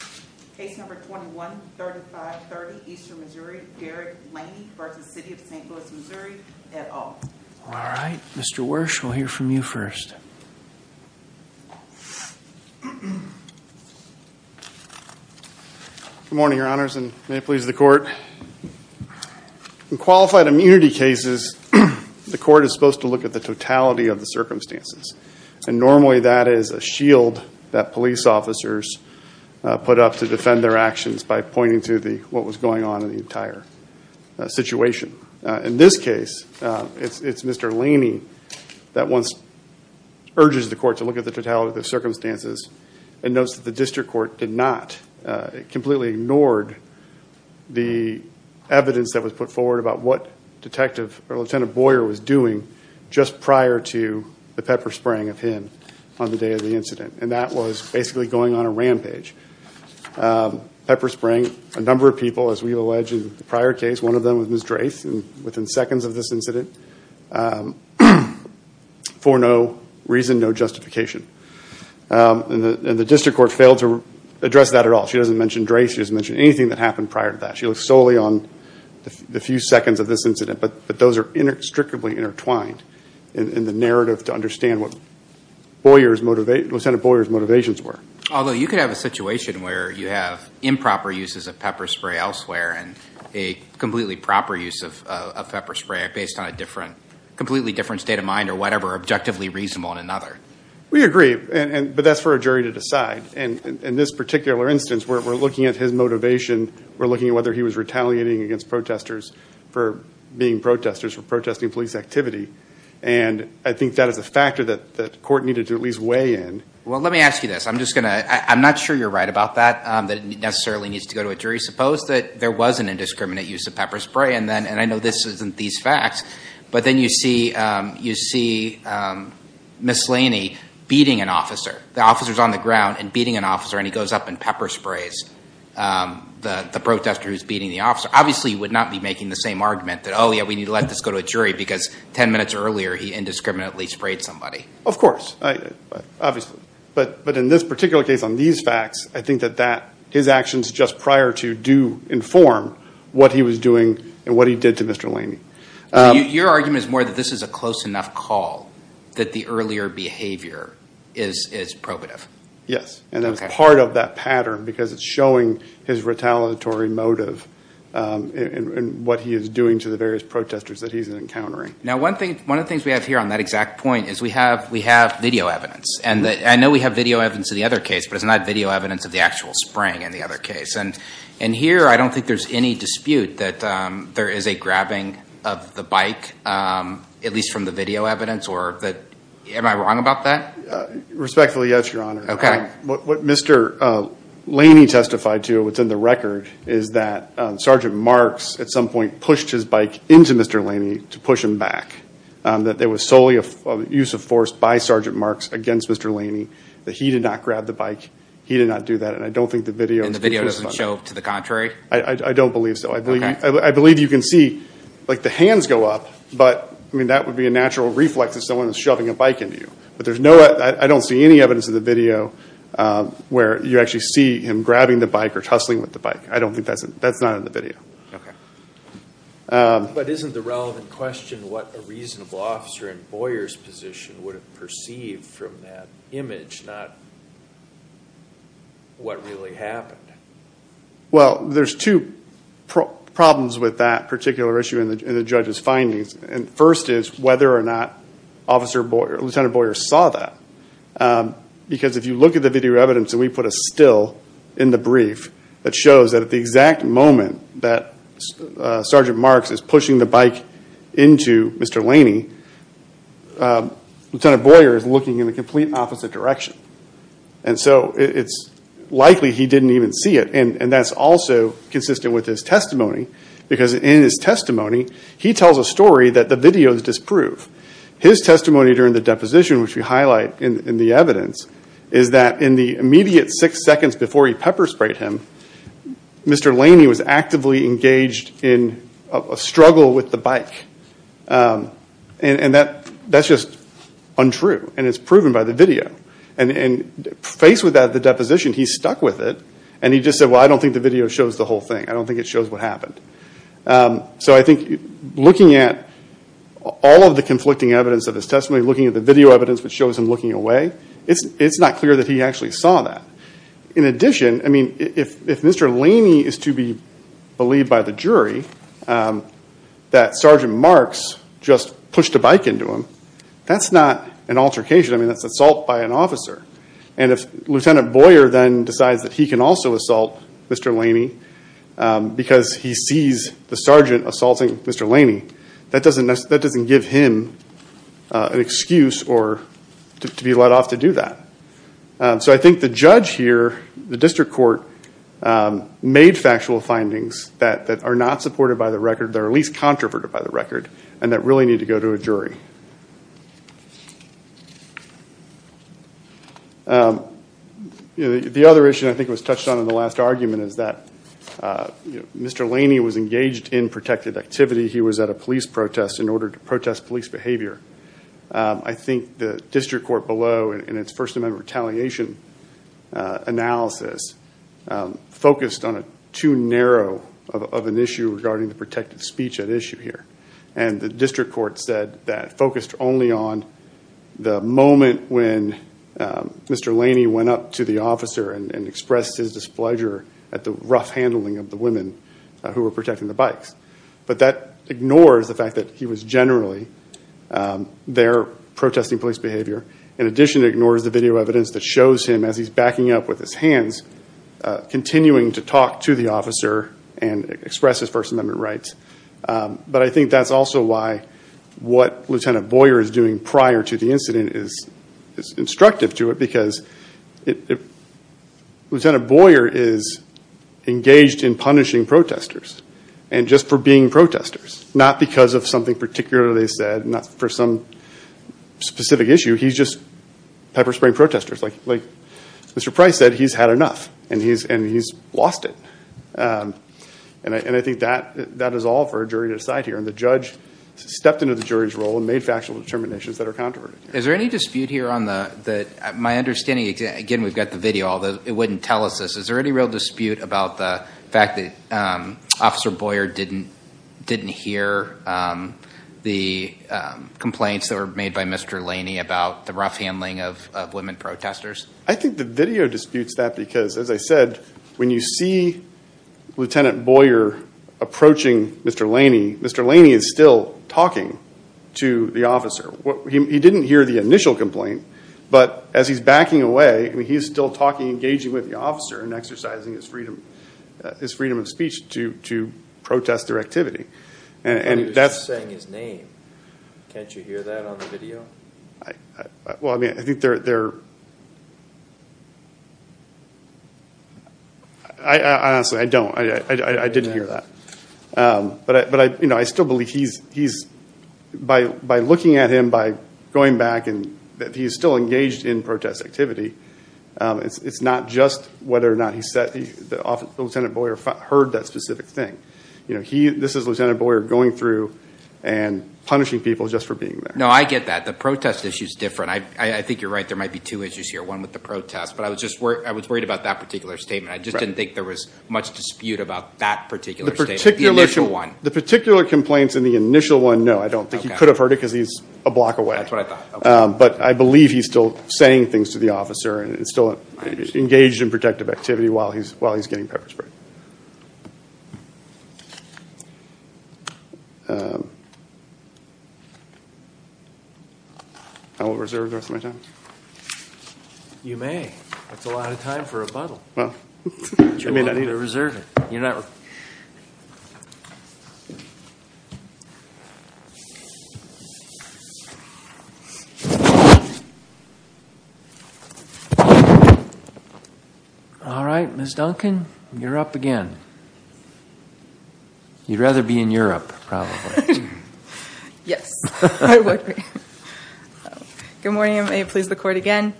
All right, Mr. Wersch, we'll hear from you first. Good morning, your honors, and may it please the court. In qualified immunity cases, the court is supposed to look at the totality of the circumstances, and normally that is a actions by pointing to the what was going on in the entire situation. In this case, it's Mr. Laney that once urges the court to look at the totality of the circumstances and notes that the district court did not, it completely ignored the evidence that was put forward about what Detective or Lieutenant Boyer was doing just prior to the pepper spraying of him on the day of the incident, and that was basically going on a rampage. Pepper spraying a number of people, as we allege in the prior case, one of them was Ms. Drace, and within seconds of this incident, for no reason, no justification, and the district court failed to address that at all. She doesn't mention Drace, she doesn't mention anything that happened prior to that. She looks solely on the few seconds of this incident, but those are inextricably intertwined in the Lieutenant Boyer's motivations were. Although you could have a situation where you have improper uses of pepper spray elsewhere, and a completely proper use of a pepper spray based on a completely different state of mind or whatever, objectively reasonable in another. We agree, but that's for a jury to decide. In this particular instance, we're looking at his motivation, we're looking at whether he was retaliating against protesters for being protesters, for protesting police activity, and I Well, let me ask you this. I'm just gonna, I'm not sure you're right about that, that it necessarily needs to go to a jury. Suppose that there was an indiscriminate use of pepper spray, and then, and I know this isn't these facts, but then you see you see Ms. Laney beating an officer. The officer's on the ground and beating an officer, and he goes up and pepper sprays the protester who's beating the officer. Obviously, you would not be making the same argument that, oh yeah, we need to let this go to a jury, because ten minutes earlier, he Obviously, but in this particular case, on these facts, I think that that, his actions just prior to do inform what he was doing and what he did to Mr. Laney. Your argument is more that this is a close enough call that the earlier behavior is probative. Yes, and that's part of that pattern, because it's showing his retaliatory motive and what he is doing to the various protesters that he's encountering. Now, one thing, one of the things we have here on that I know we have video evidence of the other case, but it's not video evidence of the actual spraying in the other case. And here, I don't think there's any dispute that there is a grabbing of the bike, at least from the video evidence, or that, am I wrong about that? Respectfully, yes, your honor. Okay. What Mr. Laney testified to, what's in the record, is that Sergeant Marks, at some point, pushed his bike into Mr. Laney to push him back. That there was solely a use of force by Sergeant Marks against Mr. Laney, that he did not grab the bike, he did not do that, and I don't think the video... And the video doesn't show to the contrary? I don't believe so. I believe you can see, like the hands go up, but, I mean, that would be a natural reflex if someone is shoving a bike into you. But there's no, I don't see any evidence of the video where you actually see him grabbing the bike or tussling with the bike. I don't think that's, that's not in the video. Okay. But isn't the relevant question what a reasonable officer in Boyer's position would have perceived from that image, not what really happened? Well, there's two problems with that particular issue in the judge's findings, and first is whether or not Officer Boyer, Lieutenant Boyer saw that. Because if you look at the video evidence, and we put a still in the brief, that shows that at the exact moment that Sergeant Marks is pushing the bike into Mr. Laney, Lieutenant Boyer is looking in the complete opposite direction. And so it's likely he didn't even see it, and that's also consistent with his testimony. Because in his testimony, he tells a story that the videos disprove. His testimony during the deposition, which we highlight in the evidence, is that in the immediate six seconds before he pepper-sprayed him, Mr. Laney was still with the bike. And that's just untrue, and it's proven by the video. And faced with that at the deposition, he stuck with it, and he just said, well, I don't think the video shows the whole thing. I don't think it shows what happened. So I think looking at all of the conflicting evidence of his testimony, looking at the video evidence which shows him looking away, it's not clear that he actually saw that. In addition, I mean, if Mr. Laney is to be believed by the jury that Sergeant Marks just pushed a bike into him, that's not an altercation. I mean, that's assault by an officer. And if Lieutenant Boyer then decides that he can also assault Mr. Laney because he sees the sergeant assaulting Mr. Laney, that doesn't give him an excuse to be let off to do that. So I think the judge here, the district court, made factual findings that are not supported by the record, that are at least controverted by the record, and that really need to go to a jury. The other issue I think was touched on in the last argument is that Mr. Laney was engaged in protected activity. He was at a police protest in order to protest police behavior. I think the district court below in its First Amendment retaliation analysis focused on a too narrow of an issue regarding the protected speech at issue here. And the district court said that focused only on the moment when Mr. Laney went up to the officer and expressed his displeasure at the rough handling of the women who were protecting the bikes. But that ignores the fact that he was generally there protesting police behavior. In addition, it ignores the video evidence that shows him as he's backing up with his hands, continuing to talk to the officer and express his First Amendment rights. But I think that's also why what Lieutenant Boyer is doing prior to the incident is instructive to it. Because Lieutenant Boyer is engaged in punishing protesters, and just for being protesters. Not because of something particularly they said, not for some specific issue. He's just pepper-spraying protesters. Like Mr. Price said, he's had enough and he's lost it. And I think that is all for a jury to decide here. And the judge stepped into the jury's role and made factual determinations that are controversial. Is there any dispute here on the, my understanding, again we've got the video although it wouldn't tell us this, is there any real dispute about the fact that Officer Boyer didn't hear the complaints that were made by Mr. Laney about the rough handling of women protesters? I think the video disputes that because, as I said, when you see Lieutenant Boyer approaching Mr. Laney, Mr. Laney is still talking to the officer. He didn't hear the initial complaint, but as he's backing away, he's still talking, engaging with the freedom of speech to protest their activity. And he was just saying his name. Can't you hear that on the video? Well, I mean, I think they're, I honestly, I don't. I didn't hear that. But I still believe he's, by looking at him, by going back and that he's still engaged in protest activity, it's not just whether or not he heard that specific thing. You know, he, this is Lieutenant Boyer going through and punishing people just for being there. No, I get that. The protest issue is different. I think you're right, there might be two issues here. One with the protest, but I was just worried, I was worried about that particular statement. I just didn't think there was much dispute about that particular statement, the initial one. The particular complaints in the initial one, no, I don't think he could have heard it because he's a block away. That's what I thought. But I believe he's still saying things to the officer and still engaged in protective activity while he's getting pepper sprayed. I will reserve the rest of my time. You may. That's a lot of time for a question. Ms. Duncan, you're up again. You'd rather be in Europe, probably. Yes, I would be. Good morning, I may please the court again.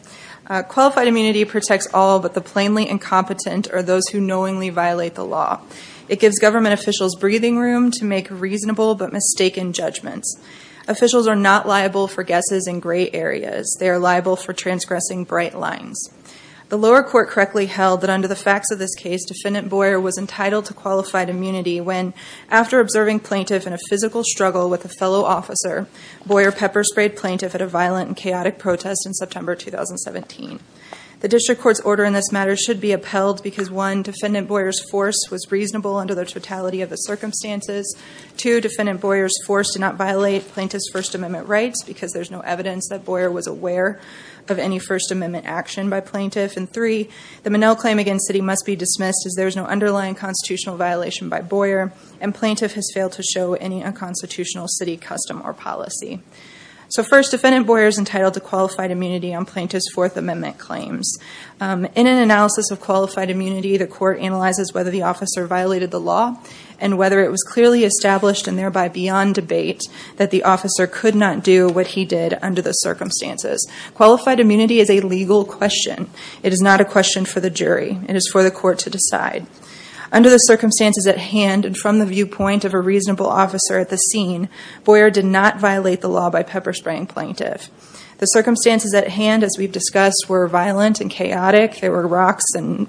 Qualified immunity protects all but the plainly incompetent or those who knowingly violate the law. It gives government officials breathing room to make reasonable but mistaken judgments. Officials are not liable for guesses in gray areas. They are liable for transgressing bright lines. The lower court correctly held that under the facts of this case, Defendant Boyer was entitled to qualified immunity when, after observing plaintiff in a physical struggle with a fellow officer, Boyer pepper-sprayed plaintiff at a violent and chaotic protest in September 2017. The district court's order in this matter should be upheld because one, Defendant Boyer's force was reasonable under the totality of the circumstances. Two, Defendant Boyer's force did not violate plaintiff's First Amendment rights because there's no evidence that Boyer was aware of any First Amendment action by plaintiff. And three, the Monell claim against city must be dismissed as there's no underlying constitutional violation by Boyer and plaintiff has failed to show any unconstitutional city custom or policy. So first, Defendant Boyer's entitled to qualified immunity on plaintiff's Fourth Amendment claims. In an analysis of qualified immunity, the court analyzes whether the officer violated the law and whether it was clearly established and thereby beyond debate that the officer could not do what he did under the circumstances. Qualified immunity is a legal question. It is not a question for the jury. It is for the court to decide. Under the circumstances at hand and from the viewpoint of a reasonable officer at the scene, Boyer did not violate the law by pepper spraying plaintiff. The circumstances at hand, as we've discussed, were violent and chaotic. There were rocks and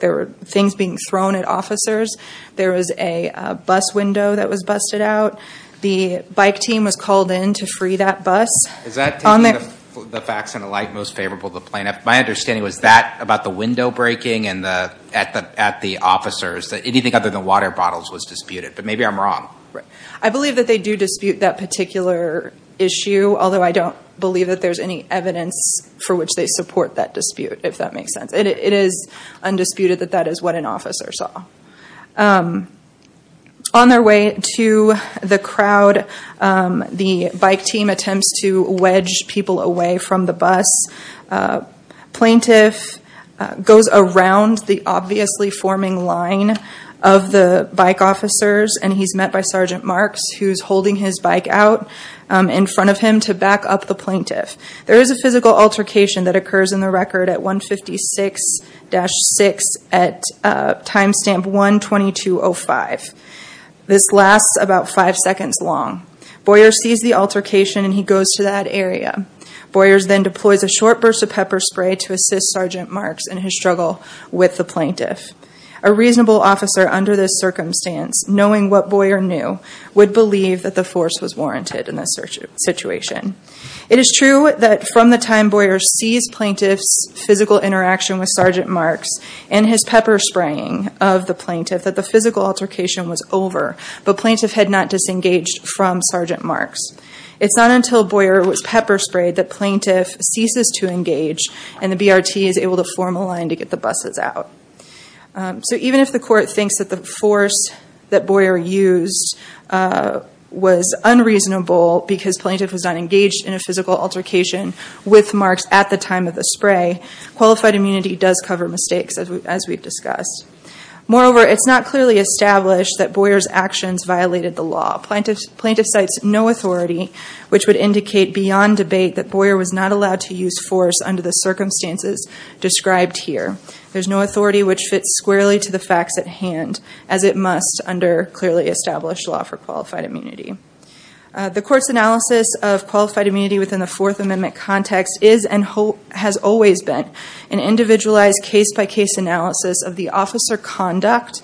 there were things being thrown at officers. There was a bus window that was busted out. The bike team was called in to free that bus. Is that taking the facts and the like most favorable to the plaintiff? My understanding was that about the window breaking and at the officers that anything other than water bottles was disputed. But maybe I'm wrong. I believe that they do dispute that particular issue, although I don't believe that there's any evidence for which they support that dispute, if that makes sense. It is undisputed that that is what an officer saw. On their way to the crowd, the bike team attempts to wedge people away from the bus. Plaintiff goes around the obviously forming line of the bike officers and he's met by Sergeant Marks, who's holding his bike out in front of him to back up the plaintiff. There is a physical altercation that occurs in the record at 156-6 at timestamp 1-2205. This lasts about five seconds long. Boyers sees the altercation and he goes to that area. Boyers then deploys a short burst of pepper spray to assist Sergeant Marks in his struggle with the plaintiff. A reasonable officer under this circumstance, knowing what Boyer knew, would believe that the force was Boyer sees plaintiff's physical interaction with Sergeant Marks and his pepper spraying of the plaintiff that the physical altercation was over, but plaintiff had not disengaged from Sergeant Marks. It's not until Boyer was pepper sprayed that plaintiff ceases to engage and the BRT is able to form a line to get the buses out. So even if the court thinks that the force that Boyer used was unreasonable because plaintiff was not engaged in a physical altercation with Marks at the time of the spray, qualified immunity does cover mistakes as we've discussed. Moreover, it's not clearly established that Boyer's actions violated the law. Plaintiff cites no authority which would indicate beyond debate that Boyer was not allowed to use force under the circumstances described here. There's no authority which fits squarely to the facts at hand as it must of qualified immunity within the Fourth Amendment context is and has always been an individualized case-by-case analysis of the officer conduct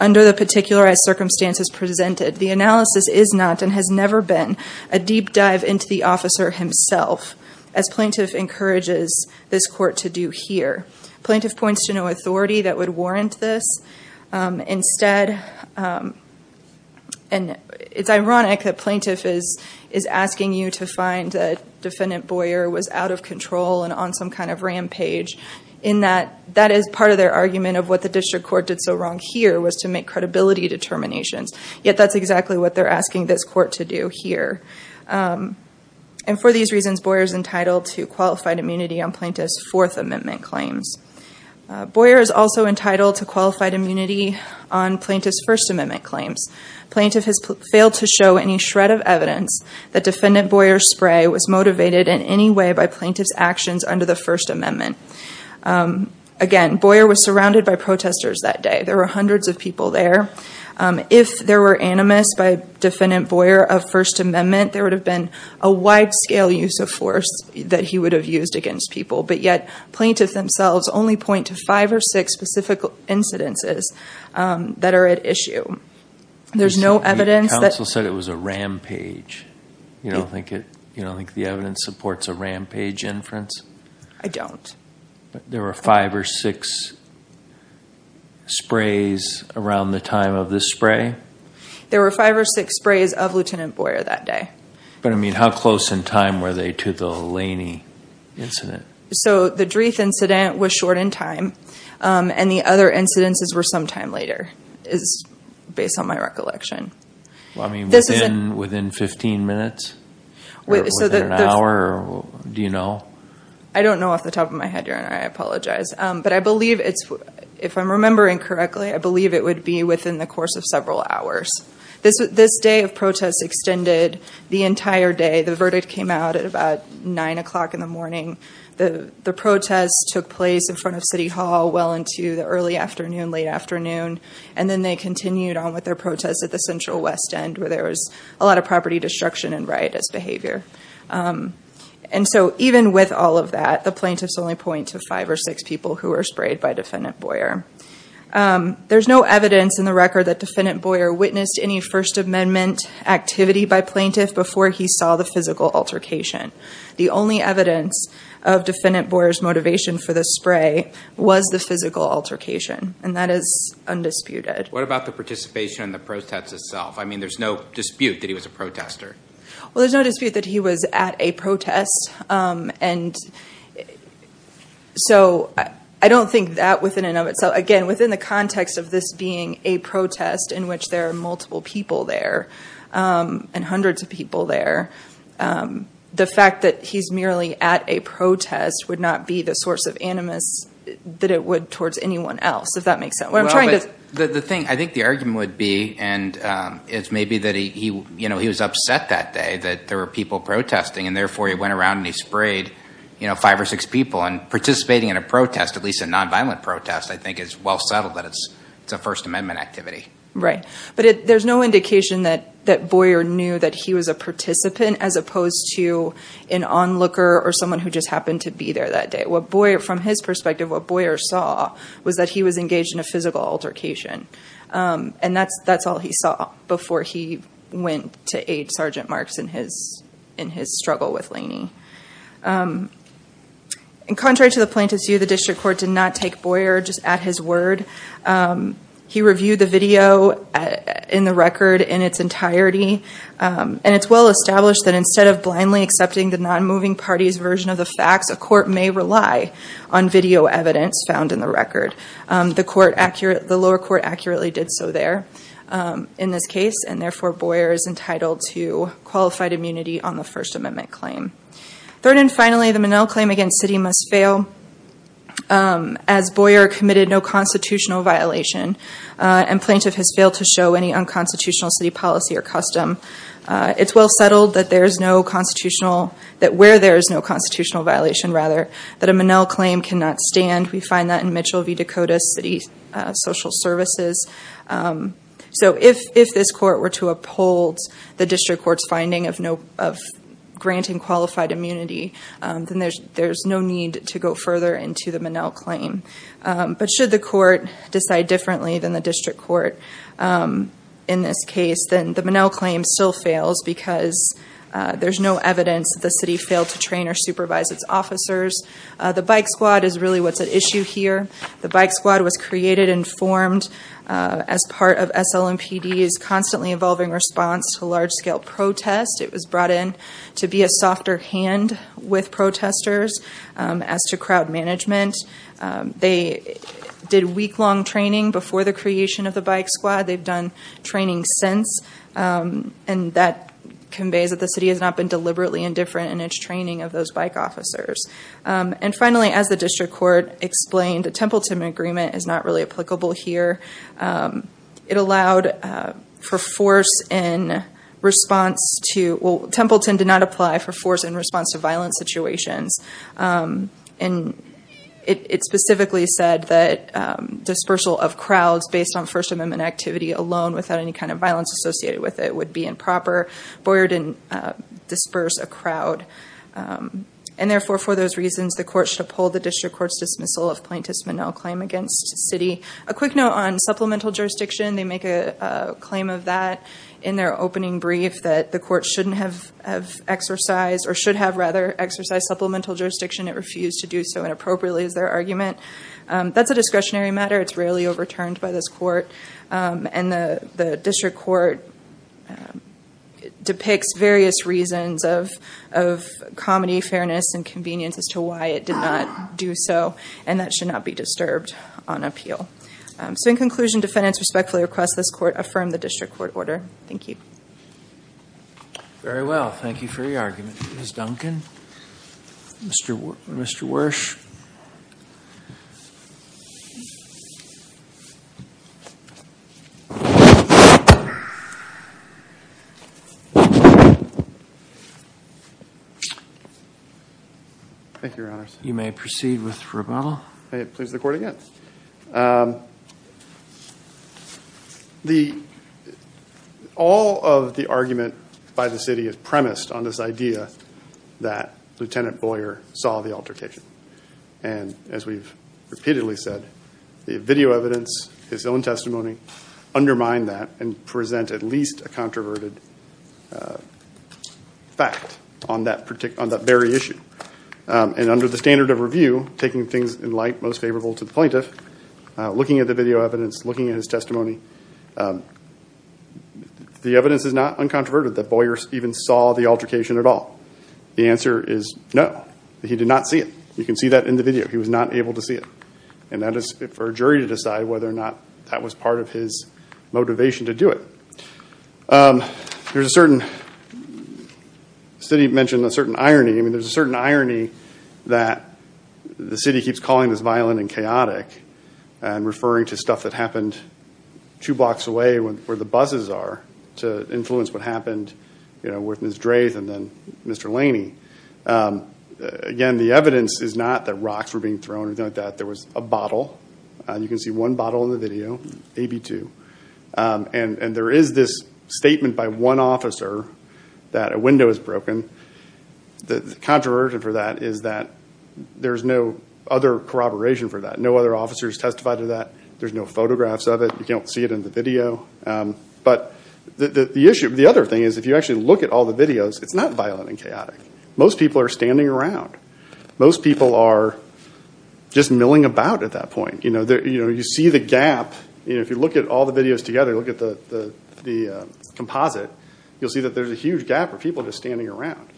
under the particularized circumstances presented. The analysis is not and has never been a deep dive into the officer himself as plaintiff encourages this court to do here. Plaintiff points to no authority that would warrant this. Instead, and it's you to find that defendant Boyer was out of control and on some kind of rampage in that that is part of their argument of what the district court did so wrong here was to make credibility determinations. Yet that's exactly what they're asking this court to do here. And for these reasons, Boyer's entitled to qualified immunity on plaintiff's Fourth Amendment claims. Boyer is also entitled to qualified immunity on plaintiff's First Amendment claims. Plaintiff has Boyer's spray was motivated in any way by plaintiff's actions under the First Amendment. Again, Boyer was surrounded by protesters that day. There were hundreds of people there. If there were animus by defendant Boyer of First Amendment, there would have been a wide-scale use of force that he would have used against people. But yet, plaintiffs themselves only point to five or six specific incidences that are at issue. There's no evidence that... You don't think the evidence supports a rampage inference? I don't. There were five or six sprays around the time of this spray? There were five or six sprays of Lieutenant Boyer that day. But I mean how close in time were they to the Laney incident? So the Dreef incident was short in time and the other incidences were some time later, is based on my recollection. I mean within 15 minutes? Within an hour? Do you know? I don't know off the top of my head, Your Honor. I apologize. But I believe it's... If I'm remembering correctly, I believe it would be within the course of several hours. This day of protests extended the entire day. The verdict came out at about nine o'clock in the morning. The protests took place in front of City Hall well into the early afternoon, late afternoon. And then they continued on with their protests at the Central West End where there was a lot of property destruction and riotous behavior. And so even with all of that, the plaintiffs only point to five or six people who were sprayed by Defendant Boyer. There's no evidence in the record that Defendant Boyer witnessed any First Amendment activity by plaintiff before he saw the physical altercation. The only evidence of Defendant Boyer's motivation for the spray was the physical altercation. And that is undisputed. What about the participation in the protest itself? I mean there's no dispute that he was a protester. Well there's no dispute that he was at a protest. And so I don't think that within and of itself. Again, within the context of this being a protest in which there are multiple people there and hundreds of people there, the fact that he's merely at a protest would not be the source of animus that it would towards anyone else, if that makes sense. What I'm trying to... The thing, I think the argument would be, and it's maybe that he, you know, he was upset that day that there were people protesting and therefore he went around and he sprayed, you know, five or six people. And participating in a protest, at least a nonviolent protest, I think is well settled that it's a First Amendment activity. Right. But there's no indication that that Boyer knew that he was a participant as opposed to an onlooker or someone who just happened to be there that day. What Boyer, from his perspective, what Boyer saw was that he was engaged in a physical altercation. And that's that's all he saw before he went to aid Sergeant Marks in his struggle with Laney. In contrary to the plaintiff's view, the district court did not take Boyer just at his word. He And it's well established that instead of blindly accepting the non-moving party's version of the facts, a court may rely on video evidence found in the record. The lower court accurately did so there in this case, and therefore Boyer is entitled to qualified immunity on the First Amendment claim. Third and finally, the Minnell claim against city must fail as Boyer committed no constitutional violation and plaintiff has failed to show any constitutional city policy or custom. It's well settled that there is no constitutional, that where there is no constitutional violation rather, that a Minnell claim cannot stand. We find that in Mitchell v. Dakota City Social Services. So if this court were to uphold the district court's finding of granting qualified immunity, then there's no need to go further into the Minnell claim. But should the court decide differently than the in this case, then the Minnell claim still fails because there's no evidence that the city failed to train or supervise its officers. The bike squad is really what's at issue here. The bike squad was created and formed as part of SLMPD's constantly evolving response to large-scale protest. It was brought in to be a softer hand with protesters. As to crowd management, they did week-long training before the creation of the bike squad. They've done training since and that conveys that the city has not been deliberately indifferent in its training of those bike officers. And finally, as the district court explained, a Templeton agreement is not really applicable here. It allowed for force in response to, well Templeton did not apply for force in response to violent situations and it specifically said that dispersal of crowds based on First Amendment activity alone without any kind of violence associated with it would be improper. Boyer didn't disperse a crowd and therefore for those reasons the court should uphold the district court's dismissal of plaintiff's Minnell claim against city. A quick note on supplemental jurisdiction, they make a claim of that in their opening brief that the court shouldn't have exercised or should have rather exercised supplemental jurisdiction. It refused to do so inappropriately is their argument. That's a discretionary matter. It's rarely overturned by this court and the district court depicts various reasons of comedy, fairness, and convenience as to why it did not do so and that should not be disturbed on appeal. So in conclusion, defendants respectfully request this court affirm the district court order. Thank you. Very well, thank you for your argument. Ms. Duncan, Mr. Wersh. Thank you, your honors. You may proceed with rebuttal. May it please the court again. All of the argument by the city is premised on this idea that Lieutenant Boyer saw the altercation. And as we've repeatedly said, the video evidence, his own testimony undermine that and present at least a controverted fact on that very issue. And under the standard of review, taking things in light most favorable to the plaintiff, looking at the video evidence, looking at his testimony, the evidence is not uncontroverted that Boyer even saw the altercation at all. The answer is no. He did not see it. You can see that in the video. He was not able to see it. And that is for a jury to decide whether or not that was part of his motivation to do it. There's a certain, the city mentioned a certain irony, I mean there's a certain irony that the city keeps calling this violent and chaotic and referring to stuff that happened two blocks away where the buses are to influence what happened, you know, with Ms. Drath and then Mr. Laney. Again, the evidence is not that rocks were being thrown or anything like that. There was a bottle. You can see one bottle in the video, AB2. And there is this statement by one officer that a is that there's no other corroboration for that. No other officers testified to that. There's no photographs of it. You can't see it in the video. But the issue, the other thing is, if you actually look at all the videos, it's not violent and chaotic. Most people are standing around. Most people are just milling about at that point. You know, you see the gap, you know, if you look at all the videos together, look at the composite, you'll see that there's a huge gap for people just standing around.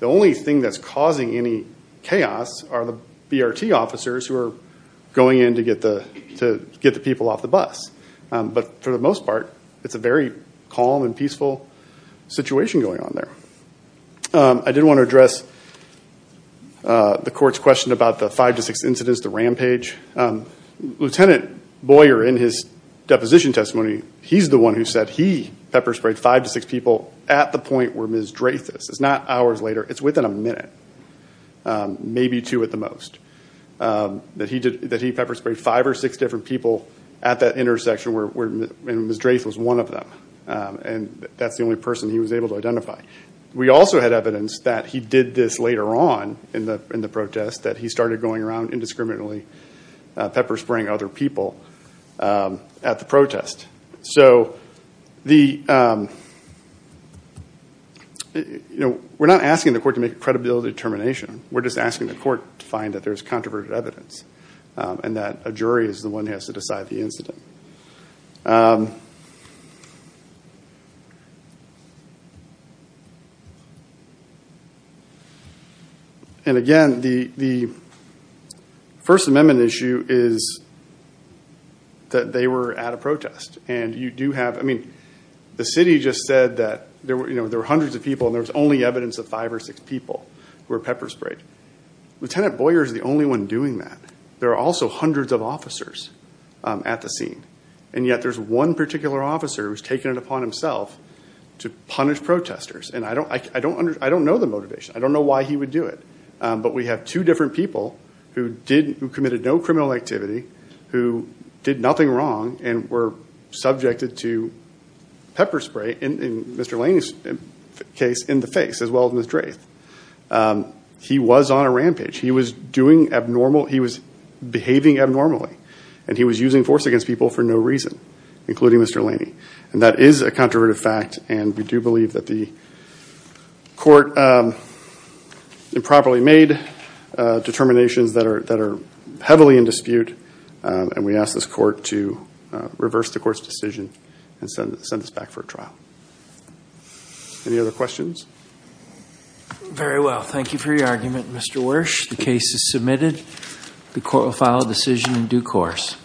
The only thing that's causing any chaos are the BRT officers who are going in to get the people off the bus. But for the most part, it's a very calm and peaceful situation going on there. I did want to address the court's question about the five to six incidents, the rampage. Lieutenant Boyer, in his deposition testimony, he's the one who said he pepper-sprayed five to six people at the point where Ms. Drath is. It's not hours later, it's within a minute, maybe two at the most. That he pepper-sprayed five or six different people at that intersection where Ms. Drath was one of them. And that's the only person he was able to identify. We also had evidence that he did this later on in the protest, that he started going around indiscriminately pepper-spraying other people at the protest. So the we're not asking the court to make a credibility determination, we're just asking the court to find that there's controverted evidence. And that a jury is the one who has to decide the incident. And again, the First Amendment issue is that they were at a protest. And you do know that the city just said that there were hundreds of people and there was only evidence of five or six people who were pepper-sprayed. Lieutenant Boyer is the only one doing that. There are also hundreds of officers at the scene. And yet there's one particular officer who's taken it upon himself to punish protesters. And I don't know the motivation. I don't know why he would do it. But we have two different people who committed no pepper spray, in Mr. Laney's case, in the face as well as Ms. Drath. He was on a rampage. He was behaving abnormally. And he was using force against people for no reason, including Mr. Laney. And that is a controverted fact. And we do believe that the court improperly made determinations that are heavily in dispute. And we ask this court to send us back for a trial. Any other questions? Very well. Thank you for your argument, Mr. Wersch. The case is submitted. The court will file a decision in due course.